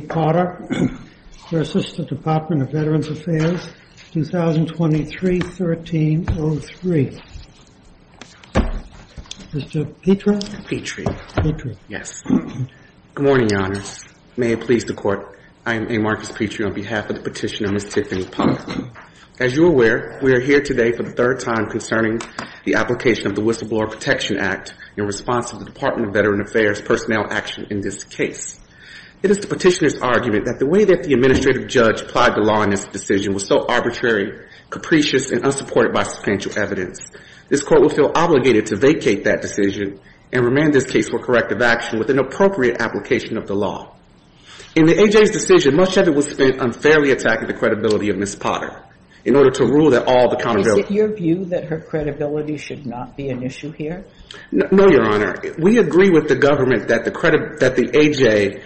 Porter versus the Department of Veterans Affairs, 2023-1303. Mr. Petrie? MR. PETRIE. Petrie, yes. Good morning, Your Honors. May it please the Court, I am A. Marcus Petrie on behalf of the petitioner, Ms. Tiffany Potter. As you are aware, we are here today for the third time concerning the application of the Whistleblower Protection Act in response to the Department of Veterans Affairs personnel action in this case. It is the petitioner's argument that the way that the administrative judge applied the law in this decision was so arbitrary, capricious, and unsupported by substantial evidence. This Court would feel obligated to vacate that decision and remand this case for corrective action with an appropriate application of the law. In the A.J.'s decision, much of it was spent unfairly attacking the credibility of Ms. Potter in order to rule that all the accountability MS. POTTER. Is it your view that her credibility should not be an issue here? MR. PETRIE. No, Your Honor. We agree with the government that the A.J.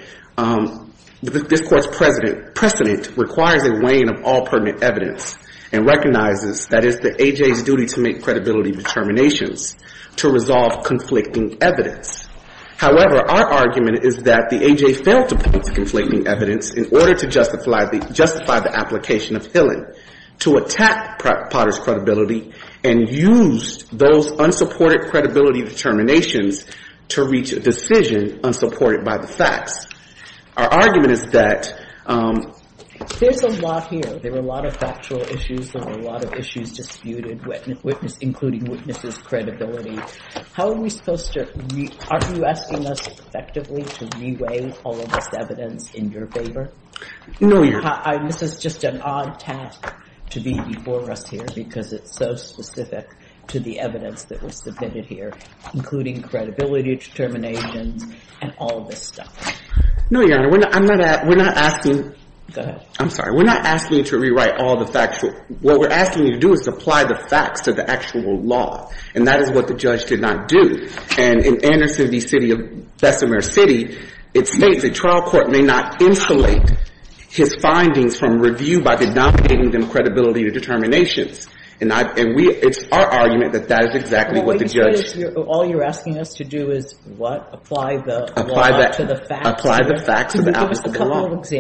This Court's precedent requires a weighing of all pertinent evidence and recognizes that it's the A.J.'s duty to make credibility determinations to resolve conflicting evidence. However, our argument is that the A.J. failed to point to conflicting evidence in order to justify the application of Hillen to attack Potter's credibility and used those unsupported credibility determinations to reach a decision unsupported by the facts. Our argument is that MS. POTTER. There's a lot here. There were a lot of factual issues. There were a lot of issues disputed, including witnesses' credibility. Aren't you asking us effectively to re-weigh all of this evidence in your favor? MR. PETRIE. No, Your Honor. MS. POTTER. This is just an odd task to be before us here because it's so specific to the evidence that was submitted here, including credibility determinations and all of this stuff. MR. PETRIE. No, Your Honor. We're not asking to rewrite all the factual. What we're asking you to do is apply the facts to the actual law, and that is what the judge did not do. And in Anderson v. City of Bessemer he did not take his findings from review by denominating them credibility to determinations. And we – it's our argument that that is exactly what the judge MR. POTTER. All you're asking us to do is what? Apply the law to the facts? MR. PETRIE. Apply the facts to the applicable law. MR. POTTER. Can you give us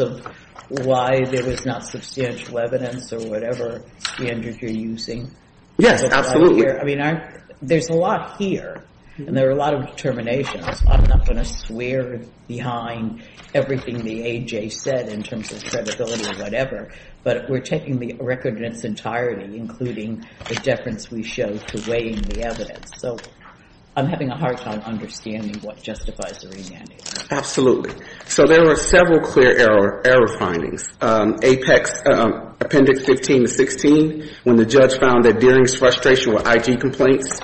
a couple of examples of why there was not substantial evidence or whatever standard you're using? MR. PETRIE. Yes, absolutely. There's a lot here, and there are a lot of determinations. I'm not going to swear behind everything the A.J. said in terms of credibility or whatever, but we're taking the record in its entirety, including the deference we showed to weighing the evidence. So I'm having a hard time understanding what justifies the remand here. MR. POTTER. Absolutely. So there were several clear error findings. Apex, Appendix 15 to 16, when the judge found that Deering's frustration with IG complaints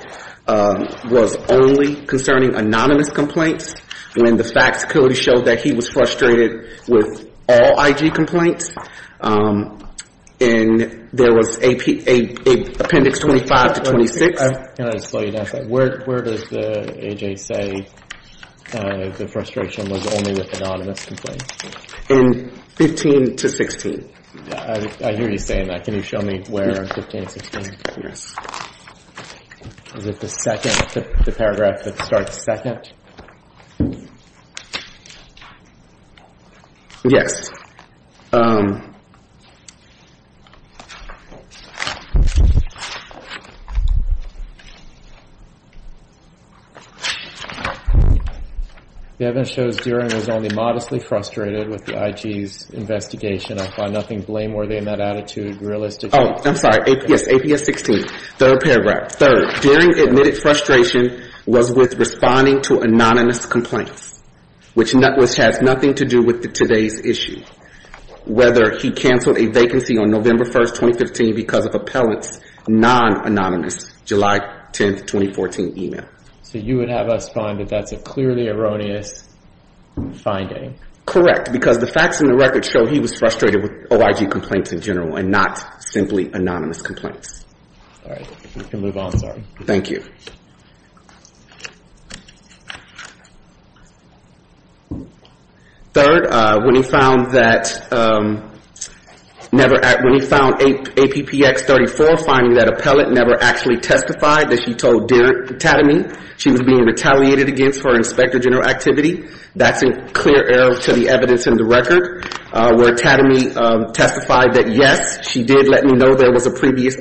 was only concerning anonymous complaints, when the facts showed that he was frustrated with all IG complaints, and there was Appendix 25 to 26. MR. PETRIE. Can I just slow you down a second? Where does the A.J. say the A.J. says 15? MR. PETRIE. 15 to 16. MR. POTTER. I hear you saying that. Can you show me where 15 and 16? MR. PETRIE. Yes. MR. POTTER. Is it the second, the paragraph that starts second? MR. PETRIE. Yes. MR. POTTER. The evidence shows Deering was only modestly frustrated with the IG's investigation. I find nothing blameworthy in that attitude realistically. MR. PETRIE. Oh, I'm sorry. Yes, APS 16, third paragraph. Third, Deering admitted frustration was with responding to anonymous complaints, which has nothing to do with today's issue, whether he canceled a vacancy on November 1, 2015 because of appellant's non-anonymous July 10, 2014 email. MR. POTTER. So you would have us find that that's a clearly erroneous finding? MR. PETRIE. Correct, because the facts in the record show he was frustrated with that. Third, when he found that, when he found APPX 34, finding that appellant never actually testified that she told Tadamy she was being retaliated against for Inspector General activity, that's a clear error to the evidence in the record, where Tadamy testified that, yes, she did let me know there was a complaint,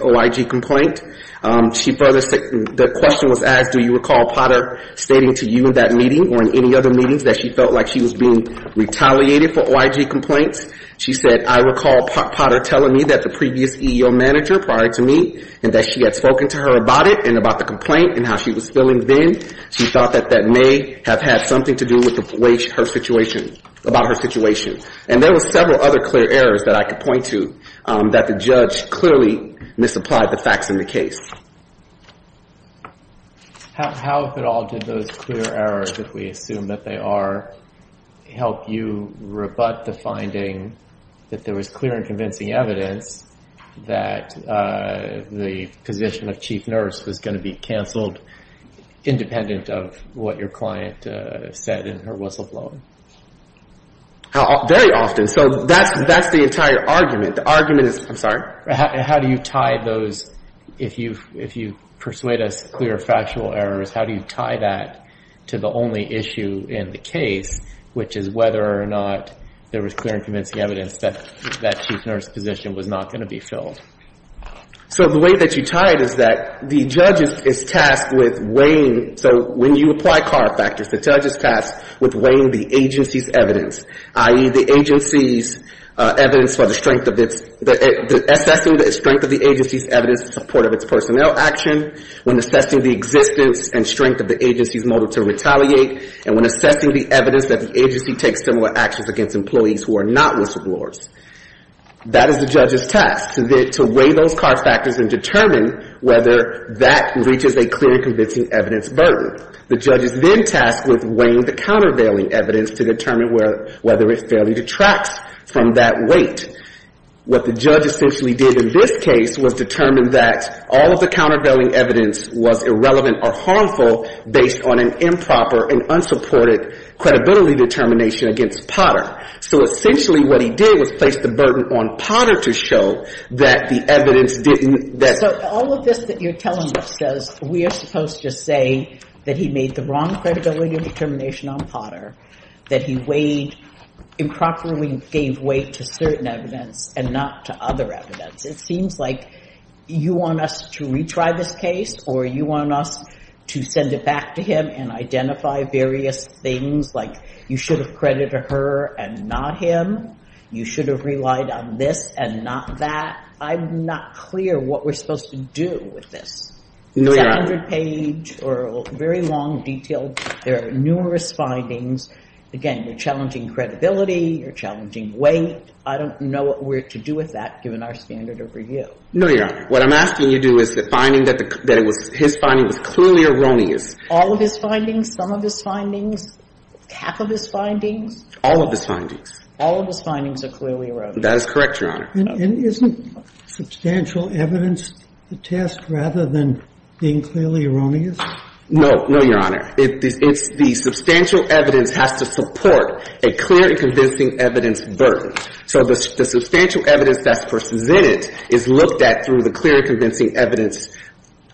and that was as, do you recall Potter stating to you in that meeting or in any other meetings that she felt like she was being retaliated for OIG complaints? She said, I recall Potter telling me that the previous EEO manager prior to me and that she had spoken to her about it and about the complaint and how she was feeling then. She thought that that may have had something to do with the way her situation, about her situation. And there were several other clear errors that I could point to that the judge clearly misapplied the facts in the case. GARY TAYLOR How if at all did those clear errors that we assume that they are help you rebut the finding that there was clear and convincing evidence that the position of chief nurse was going to be canceled independent of what your client said in her whistleblower? GARY TAYLOR Very often. So that's the entire argument. The argument is, I'm sorry? GARY TAYLOR How do you tie those, if you persuade us clear factual errors, how do you tie that to the only issue in the case, which is whether or not there was clear and convincing evidence that that chief nurse's position was not going to be filled? GARY TAYLOR So the way that you tie it is that the judge is tasked with weighing. So when you apply car factors, the agency's evidence, i.e., the agency's evidence for the strength of its, assessing the strength of the agency's evidence in support of its personnel action, when assessing the existence and strength of the agency's motive to retaliate, and when assessing the evidence that the agency takes similar actions against employees who are not whistleblowers, that is the judge's task, to weigh those car factors and determine whether that reaches a clear and convincing evidence burden. The judge is then tasked with weighing the countervailing evidence to determine whether it fairly detracts from that weight. What the judge essentially did in this case was determine that all of the countervailing evidence was irrelevant or harmful based on an improper and unsupported credibility determination against Potter. So essentially what he did was place the burden on Potter to show that the evidence didn't So all of this that you're telling us says we are supposed to say that he made the wrong credibility determination on Potter, that he weighed, improperly gave weight to certain evidence and not to other evidence. It seems like you want us to retry this case or you want us to send it back to him and identify various things like you should have credited her and not him, you should have relied on this and not that. I'm not clear what we're supposed to do with this. It's a hundred page or very long, detailed. There are numerous findings. Again, you're challenging credibility, you're challenging weight. I don't know what we're to do with that given our standard of review. No, Your Honor. What I'm asking you to do is the finding that his finding was clearly erroneous. All of his findings? Some of his findings? Half of his findings? All of his findings. All of his findings are clearly erroneous. That is correct, Your Honor. And isn't substantial evidence the test rather than being clearly erroneous? No. No, Your Honor. It's the substantial evidence has to support a clear and convincing evidence burden. So the substantial evidence that's presented is looked at through the clear and convincing evidence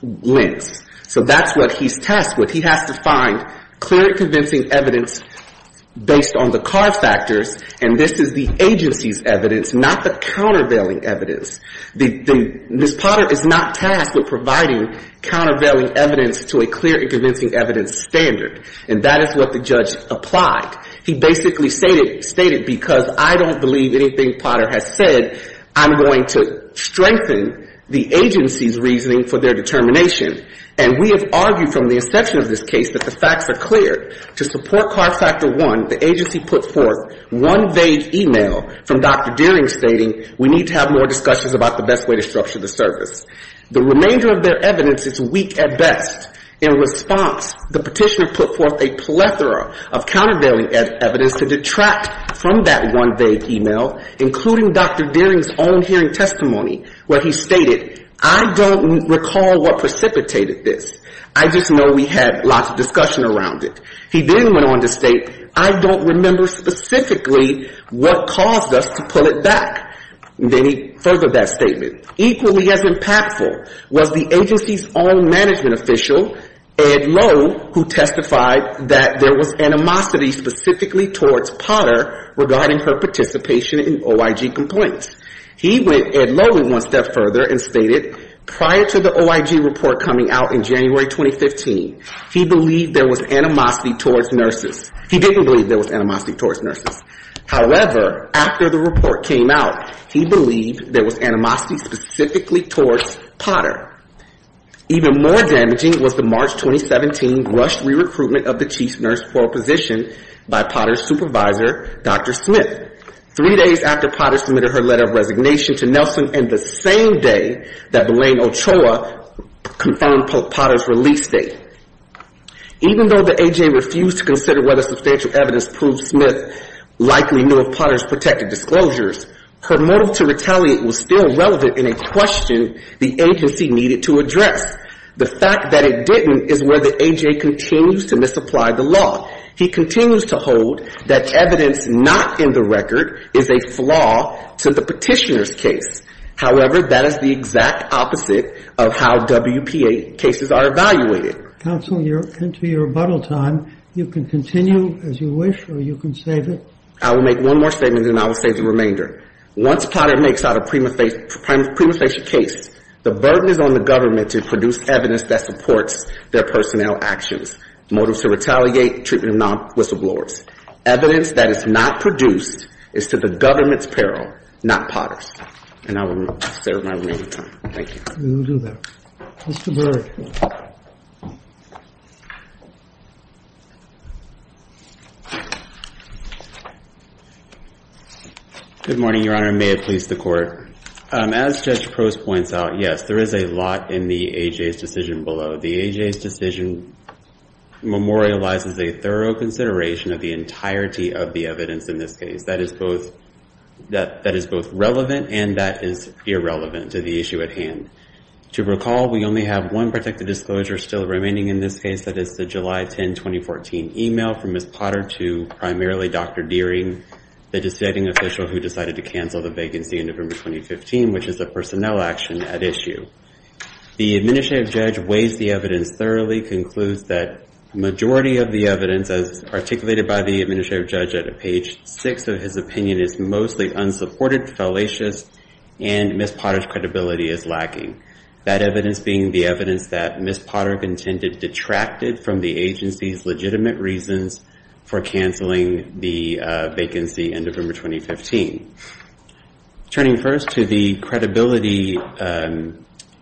lens. So that's what he's tasked with. He has to find clear and convincing evidence based on the car factors, and this is the agency's evidence, not the countervailing evidence. The Ms. Potter is not tasked with providing countervailing evidence to a clear and convincing evidence standard. And that is what the judge applied. He basically stated because I don't believe anything Potter has said, I'm going to strengthen the agency's case that the facts are clear. To support car factor one, the agency put forth one vague email from Dr. Deering stating we need to have more discussions about the best way to structure the service. The remainder of their evidence is weak at best. In response, the petitioner put forth a plethora of countervailing evidence to detract from that one vague email, including Dr. Deering's own hearing testimony where he stated I don't recall what precipitated this. I just know we had lots of discussion around it. He then went on to state I don't remember specifically what caused us to pull it back. Then he furthered that statement. Equally as impactful was the agency's own management official, Ed Lowe, who testified that there was animosity specifically towards Potter regarding her participation in OIG complaints. He went one step further and stated prior to the OIG report coming out in January 2015, he believed there was animosity towards nurses. He didn't believe there was animosity towards nurses. However, after the report came out, he believed there was animosity specifically towards Potter. Even more damaging was the March 2017 rushed re-recruitment of the chief nurse for a position by Potter's supervisor, Dr. Smith, three days after Potter submitted her letter of resignation to Nelson and the same day that Elaine Ochoa confirmed Potter's release date. Even though the AGA refused to consider whether substantial evidence proved Smith likely knew of Potter's protected disclosures, her motive to retaliate was still relevant in a question the agency needed to address. The fact that it didn't is where the AGA continues to misapply the law. He continues to hold that evidence not in the record is a flaw to the Petitioner's case. However, that is the exact opposite of how WPA cases are evaluated. Counsel, you're into your rebuttal time. You can continue as you wish, or you can save it. I will make one more statement, and I will save the remainder. Once Potter makes out a prima facie case, the burden is on the government to produce evidence that supports their personnel actions. Motives to retaliate, treatment of non-whistleblowers. Evidence that is not produced is to the government's peril, not Potter's. And I will reserve my remaining time. Thank you. Mr. Berg. Good morning, Your Honor. May it please the Court. As Judge Prost points out, yes, there is a lot in the AGA's decision below. The AGA's decision memorializes a thorough consideration of the entirety of the evidence in this case. That is both relevant and that is irrelevant to the issue at hand. To recall, we only have one protected disclosure still remaining in this case. That is the July 10, 2014 email from Ms. Potter to primarily Dr. Deering, the deciding official who decided to cancel the vacancy in November 2015, which is a personnel action at issue. The Administrative Judge weighs the evidence thoroughly, concludes that the majority of the evidence, as articulated by the Administrative Judge at page 6 of his opinion, is mostly unsupported, fallacious, and Ms. Potter's credibility is lacking. That evidence being the evidence that Ms. Potter contended detracted from the agency's legitimate reasons for the credibility,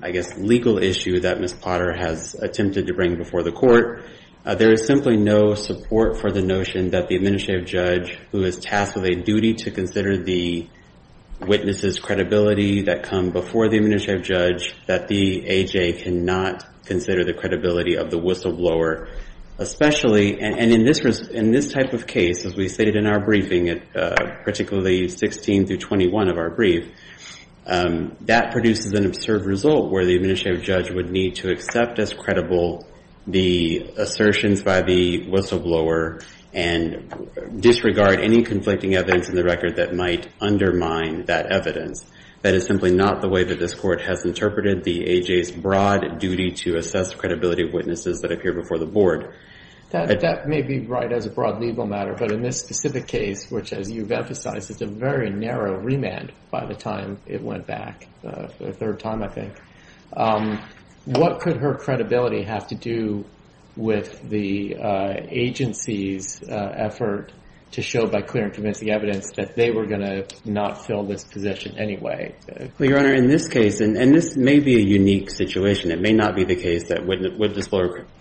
I guess, legal issue that Ms. Potter has attempted to bring before the Court. There is simply no support for the notion that the Administrative Judge, who is tasked with a duty to consider the witness's credibility that come before the Administrative Judge, that the AGA cannot consider the credibility of the whistleblower. Especially, and in this type of case, as we stated in our briefing, particularly 16 through 21 of our brief, that produces an absurd result where the Administrative Judge would need to accept as credible the assertions by the whistleblower and disregard any conflicting evidence in the record that might undermine that evidence. That is simply not the way that this Court has interpreted the AGA's broad duty to assess the credibility of witnesses that appear before the Board. That may be right as a broad legal matter, but in this specific case, which as you've emphasized is a very narrow remand by the time it went back, the third time I think, what could her credibility have to do with the agency's effort to show by clear and convincing evidence that they were going to not fill this position anyway? Well, Your Honor, in this case, and this may be a unique situation. It may not be the case that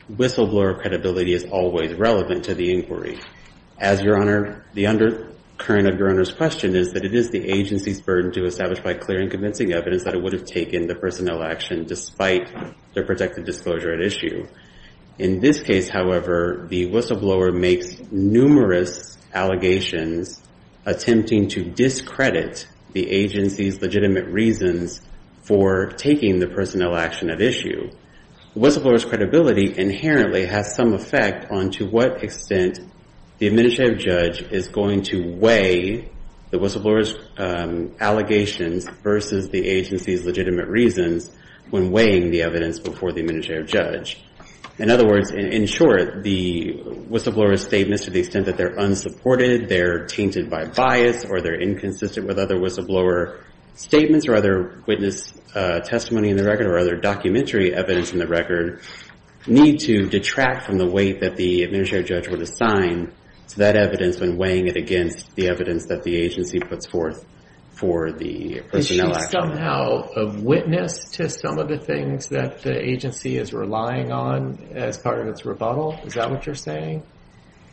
whistleblower credibility is always relevant to the inquiry. As Your Honor, the undercurrent of Your Honor's question is that it is the agency's burden to establish by clear and convincing evidence that it would have taken the personnel action despite their protected disclosure at issue. In this case, however, the whistleblower makes numerous allegations attempting to discredit the agency's legitimate reasons for taking the personnel action at issue. Whistleblower's credibility inherently has some effect on to what extent the administrative judge is going to weigh the whistleblower's allegations versus the agency's legitimate reasons when weighing the evidence before the administrative judge. In other words, in short, the whistleblower's statements to the extent that they're unsupported, they're tainted by bias, or they're inconsistent with other whistleblower statements or other witness testimony in the record or other documentary evidence in the record need to detract from the weight that the administrative judge would assign to that evidence when weighing it against the evidence that the agency puts forth for the personnel action. Is she somehow a witness to some of the things that the agency is relying on as part of its rebuttal? Is that what you're saying?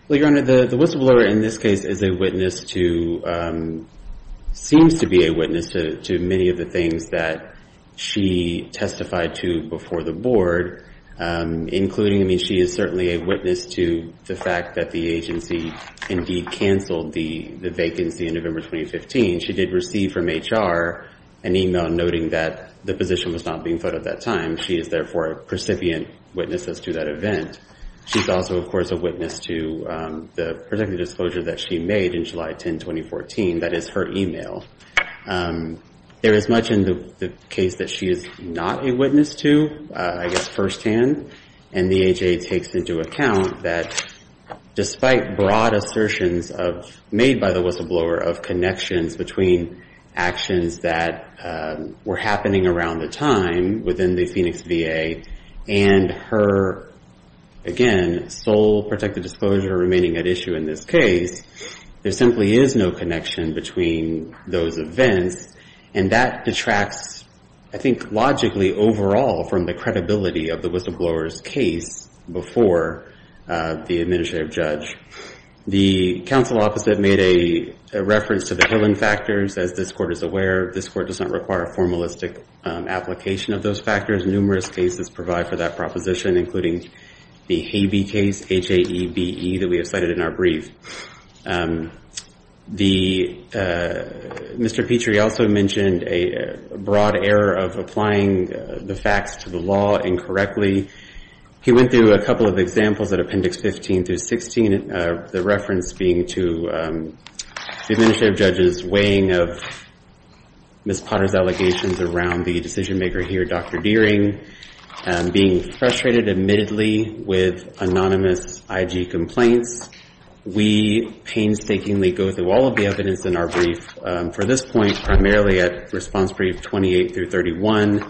Well, Your Honor, the whistleblower in this case is a witness to seems to be a witness to many of the things that she testified to when the agency indeed canceled the vacancy in November 2015. She did receive from HR an email noting that the position was not being filled at that time. She is therefore a precipient witness to that event. She's also, of course, a witness to the protective disclosure that she made in July 10, 2014. That is her email. There is much in the case that she is not a witness to, I guess, firsthand. And the AJA takes into account that despite broad assertions made by the whistleblower of connections between actions that were happening around the time within the Phoenix VA and her, again, sole protective disclosure remaining at issue in this case, there simply is no connection between those events. And that detracts, I think, logically, overall, from the credibility of the whistleblower's case before the administrative judge. The counsel opposite made a reference to the Hillen factors. As this Court is aware, this Court does not require a formalistic application of those factors. Numerous cases provide for that proposition, including the Habee case, H-A-E-B-E, that we have cited in our brief. Mr. Petrie also mentioned a broad error of applying the facts to the law incorrectly. He went through a couple of examples at Appendix 15 through 16, the reference being to the administrative judge's weighing of Ms. Potter's allegations around the decision-maker here, Dr. Deering, being frustrated, admittedly, with anonymous IG complaints. We painstakingly go through all of the evidence in our brief for this point, primarily at response brief 28 through 31.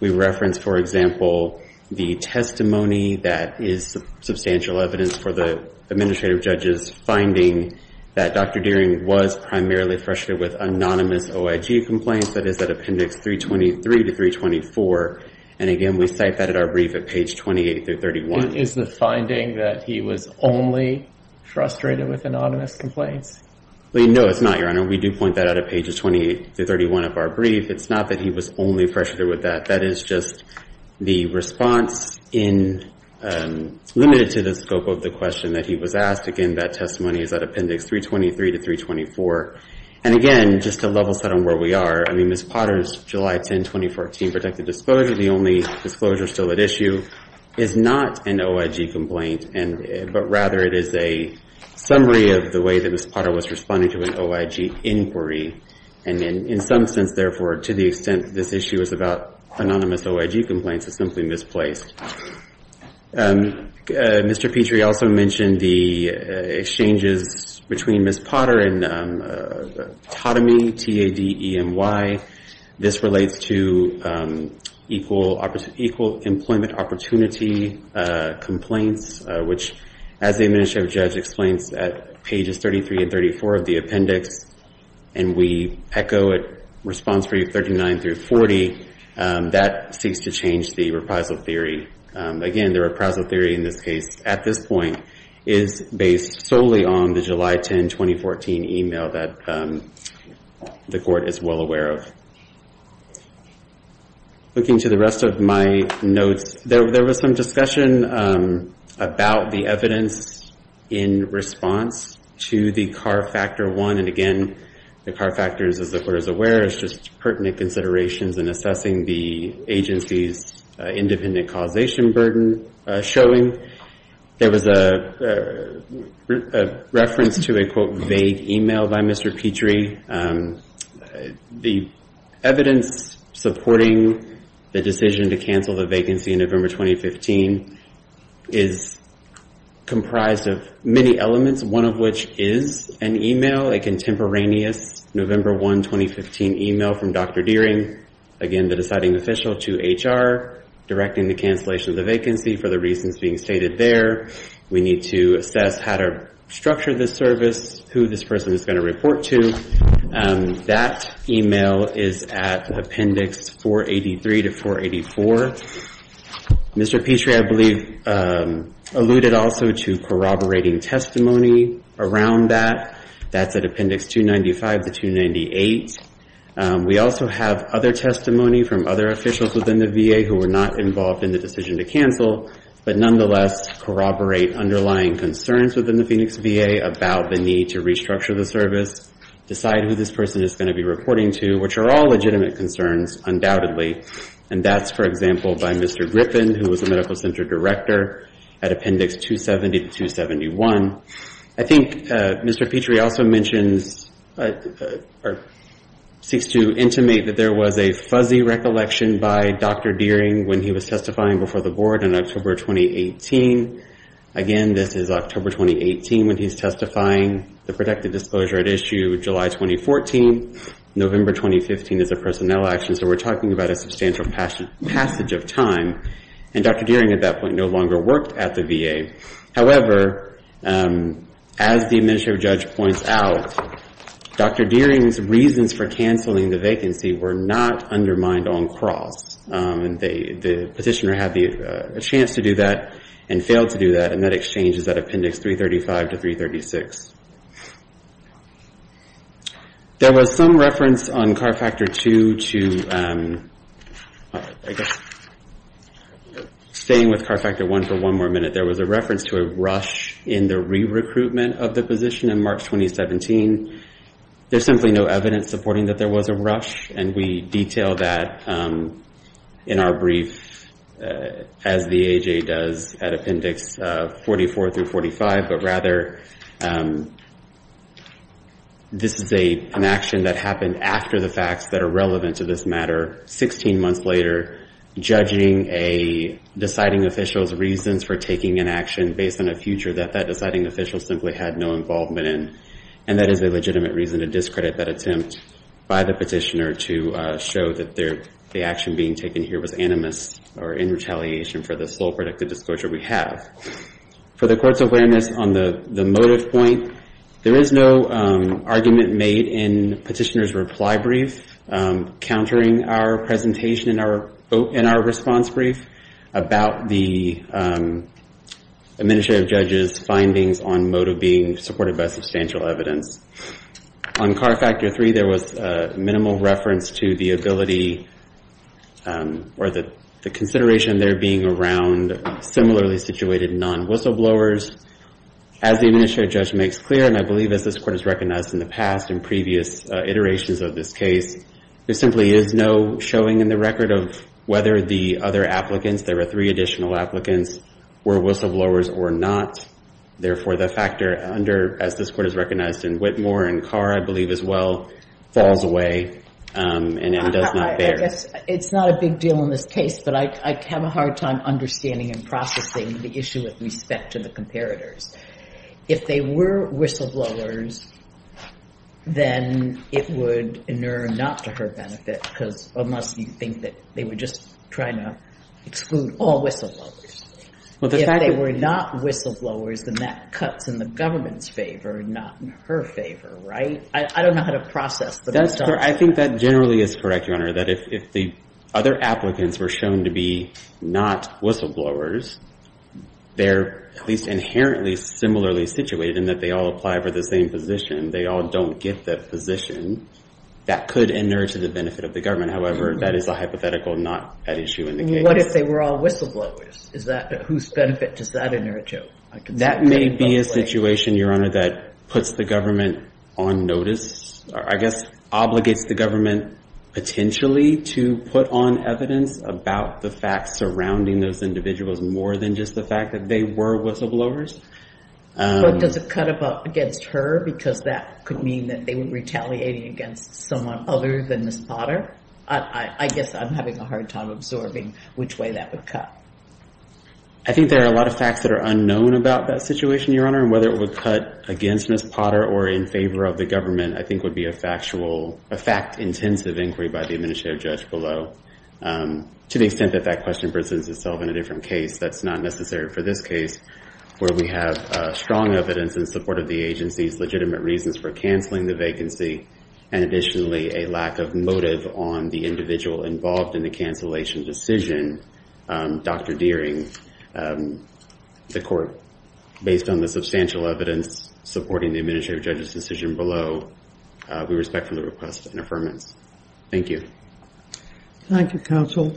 We reference, for example, the testimony that is substantial evidence for the administrative judge's reasoning that Dr. Deering was primarily frustrated with anonymous OIG complaints. That is at Appendix 323 to 324. And again, we cite that at our brief at page 28 through 31. Is the finding that he was only frustrated with anonymous complaints? No, it's not, Your Honor. We do point that out at pages 28 through 31 of our brief. It's not that he was only frustrated with that. That is just the response in limited to the scope of the question that he was asked. Again, that testimony is at Appendix 323 to 324. And again, just to level set on where we are, I mean, Ms. Potter's July 10, 2014 protected disclosure, the only disclosure still at issue, is not an OIG complaint, but rather it is a summary of the way that Ms. Potter was responding to an OIG inquiry. And in some sense, therefore, to the extent this issue is about anonymous OIG complaints, it's simply misplaced. Mr. Petrie also mentioned the exchanges between Ms. Potter and TADEMY, T-A-D-E-M-Y. This relates to equal employment opportunity complaints, which as the administrative judge explains at pages 33 and 34 of the appendix, and we echo it response for you 39 through 40, that seeks to change the reprisal theory. Again, the reprisal theory in this case at this point is based solely on the July 10, 2014 email that the court is well aware of. Looking to the rest of my notes, there was some discussion about the evidence in response to the CAR Factor 1. And again, the CAR Factor, as the court is aware, is just pertinent considerations in assessing the agency's independent causation burden showing. There was a reference to a, quote, vague email by Mr. Petrie. The evidence supporting the decision to cancel the vacancy in November 2015 is comprised of many elements, one of which is an email, a contemporaneous November 1, 2015 email from Dr. Dearing, again, the deciding official to HR, directing the cancellation of the vacancy for the reasons being stated there. We need to assess how to structure the service, who this person is going to report to. That email is at appendix 483 to 484. Mr. Petrie, I believe, alluded also to corroborating testimony around that. That's at appendix 295 to 298. We also have other testimony from other officials within the VA who were not involved in the decision to cancel, but nonetheless corroborate underlying concerns within the Phoenix VA about the need to restructure the service, decide who this person is going to be reporting to, which are all legitimate concerns, undoubtedly. And that's, for example, by Mr. Griffin, who was the Medical Center Director, at appendix 270 to 271. I think Mr. Petrie also mentions or seeks to intimate that there was a fuzzy recollection by Dr. Dearing when he was testifying before the Board in October 2018. Again, this is October 2018 when he's testifying, the protected disclosure at issue July 2014. November 2015 is a personnel action, so we're talking about a substantial passage of time. And Dr. Dearing at that point no longer worked at the VA. However, as the Administrative Judge points out, Dr. Dearing's reasons for canceling the vacancy were not undermined on cross. The petitioner had a chance to do that and failed to do that, and that exchange is at appendix 335 to 336. There was some reference on CAR Factor 2 to, I guess, staying with CAR Factor 1 for one more minute. There was a reference to a rush in the re-recruitment of the position in March 2017. There's simply no evidence supporting that there was a rush, and we detail that in our brief as the This is an action that happened after the facts that are relevant to this matter, 16 months later, judging a deciding official's reasons for taking an action based on a future that that deciding official simply had no involvement in. And that is a legitimate reason to discredit that attempt by the petitioner to show that the action being taken here was animus or in retaliation for the sole protected disclosure we have. For the Court's awareness on the motive point, there is no argument made in the petitioner's reply brief countering our presentation in our response brief about the Administrative Judge's findings on motive being supported by substantial evidence. On CAR Factor 3, there was minimal reference to the ability or the consideration there being around similarly situated non-whistleblowers. As the Administrative Judge makes clear, and I believe as this Court has recognized in the past and previous iterations of this case, there simply is no showing in the record of whether the other applicants, there were three additional applicants, were whistleblowers or not. Therefore, the factor under, as this Court has recognized in Whitmore and CAR, I believe as well, falls away and does not bear. It's not a big deal in this case, but I have a hard time understanding and processing the issue with respect to the comparators. If they were whistleblowers, then it would inure not to her benefit, unless you think that they were just trying to exclude all whistleblowers. If they were not whistleblowers, then that cuts in the government's favor, not in her favor, right? I don't know how to process the results. I think that generally is correct, Your Honor, that if the other applicants were shown to be not whistleblowers, they're at least inherently similarly situated in that they all apply for the same position. They all don't get that position. That could inure to the benefit of the government. However, that is a hypothetical, not at issue in the case. What if they were all whistleblowers? Whose benefit does that inure to? That may be a situation, Your Honor, that puts the government on notice. I guess obligates the government potentially to put on evidence about the facts surrounding those individuals more than just the fact that they were whistleblowers. But does it cut against her because that could mean that they were retaliating against someone other than Ms. Potter? I guess I'm having a hard time absorbing which way that would cut. I think there are a lot of facts that are unknown about that situation, Your Honor, and whether it would cut against Ms. Potter or in favor of the government, I think would be a fact-intensive inquiry by the administrative judge below, to the extent that that question presents itself in a different case that's not necessary for this case, where we have strong evidence in support of the agency's legitimate reasons for canceling the vacancy and additionally a lack of motive on the individual involved in the cancellation decision, Dr. Deering, the court, based on the substantial evidence supporting the administrative judge's decision below. We respect the request and affirmance. Thank you. Thank you, counsel.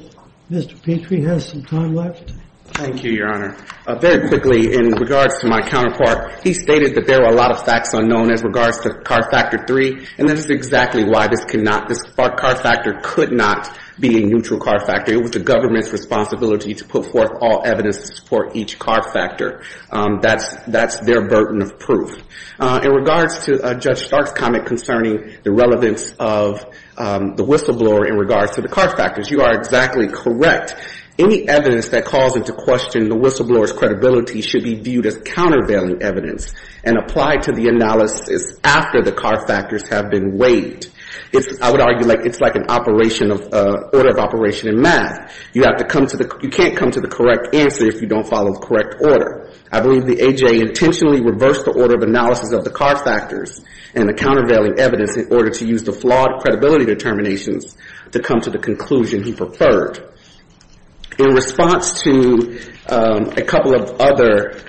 Mr. Petrie has some time left. Thank you, Your Honor. Very quickly, in regards to my counterpart, he stated that there were a lot of facts unknown as regards to CAR Factor 3, and this is exactly why this could not, this CAR Factor could not be a neutral CAR Factor. It was the government's responsibility to put forth all evidence to support each CAR Factor. That's their burden of proof. In regards to Judge Stark's comment concerning the relevance of the whistleblower in regards to the CAR Factors, you are exactly correct. Any evidence that calls into question the whistleblower's credibility should be viewed as countervailing evidence and applied to the analysis after the CAR Factors have been waived. I would argue like it's like an operation of, order of operation in math. You have to come to the, you can't come to the correct answer if you don't follow the correct order. I believe the AJA intentionally reversed the order of analysis of the CAR Factors and the countervailing evidence in order to use the flawed credibility determinations to come to the conclusion he preferred. In response to a couple of other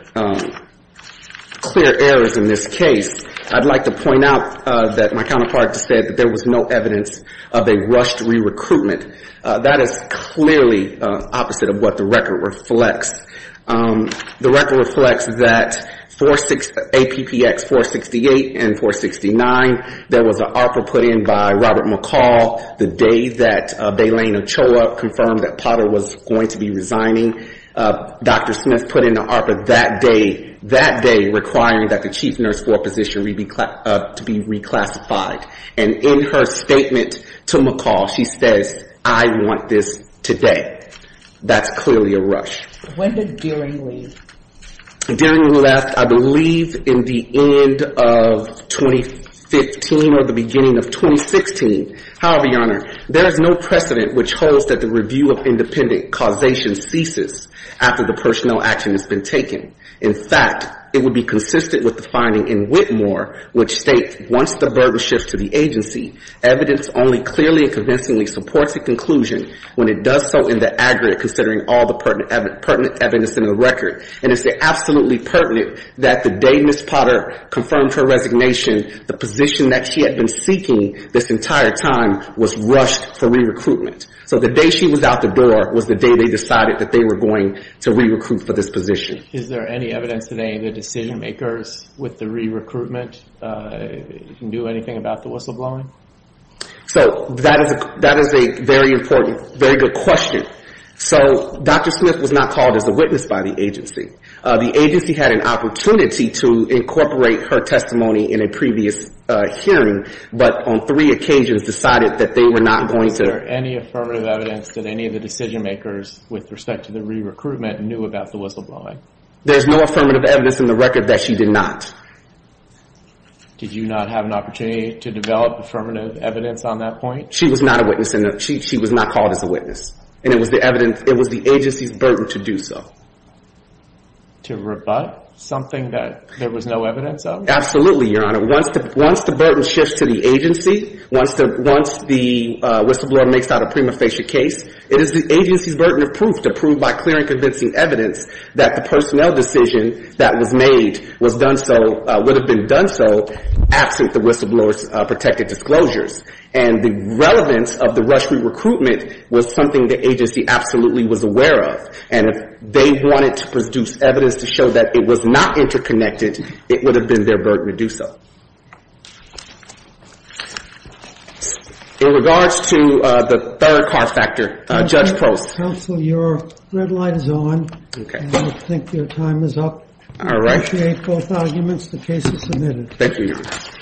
clear errors in this case, I'd like to point out that my counterpart said that there was no evidence of a rushed re-recruitment. That is clearly opposite of what the record reflects. The record reflects that APPX 468 and 469, there was an ARPA put in by Robert McCall the day that Baylene Ochoa confirmed that Potter was going to be resigning. Dr. Smith put in an ARPA that day, that day requiring that the chief nurse floor position to be reclassified. And in her statement to McCall, she says, I want this today. That's clearly a rush. When did Deering leave? Deering left, I believe, in the end of 2015 or the beginning of 2016. However, Your Honor, there is no precedent which holds that the review of independent causation ceases after the personnel action has been taken. In fact, it would be consistent with the finding in Whitmore which states, once the burden shifts to the agency, evidence only clearly and convincingly supports a conclusion when it does so in the aggregate, considering all the pertinent evidence in the record. And it's absolutely pertinent that the day Ms. Potter confirmed her resignation, the position that she had been seeking this entire time was rushed for re-recruitment. So the day she was out the door was the day they decided that they were going to re-recruit for this position. And is there any evidence that any of the decision makers with the re-recruitment knew anything about the whistleblowing? So that is a very important, very good question. So Dr. Smith was not called as a witness by the agency. The agency had an opportunity to incorporate her testimony in a previous hearing, but on three occasions decided that they were not going to. Is there any affirmative evidence that any of the decision makers with respect to the re-recruitment knew about the whistleblowing? There's no affirmative evidence in the record that she did not. Did you not have an opportunity to develop affirmative evidence on that point? She was not called as a witness, and it was the agency's burden to do so. To rebut something that there was no evidence of? Absolutely, Your Honor. Once the burden shifts to the agency, once the whistleblower makes out a prima facie case, it is the agency's burden of proof to prove by clear and convincing evidence that the personnel decision that was made would have been done so absent the whistleblower's protected disclosures. And the relevance of the rush re-recruitment was something the agency absolutely was aware of. And if they wanted to produce evidence to show that it was not interconnected, it would have been their burden to do so. In regards to the third car factor, Judge Post. Counsel, your red light is on. Okay. I think your time is up. All right. We appreciate both arguments. The case is submitted. Thank you, Your Honor.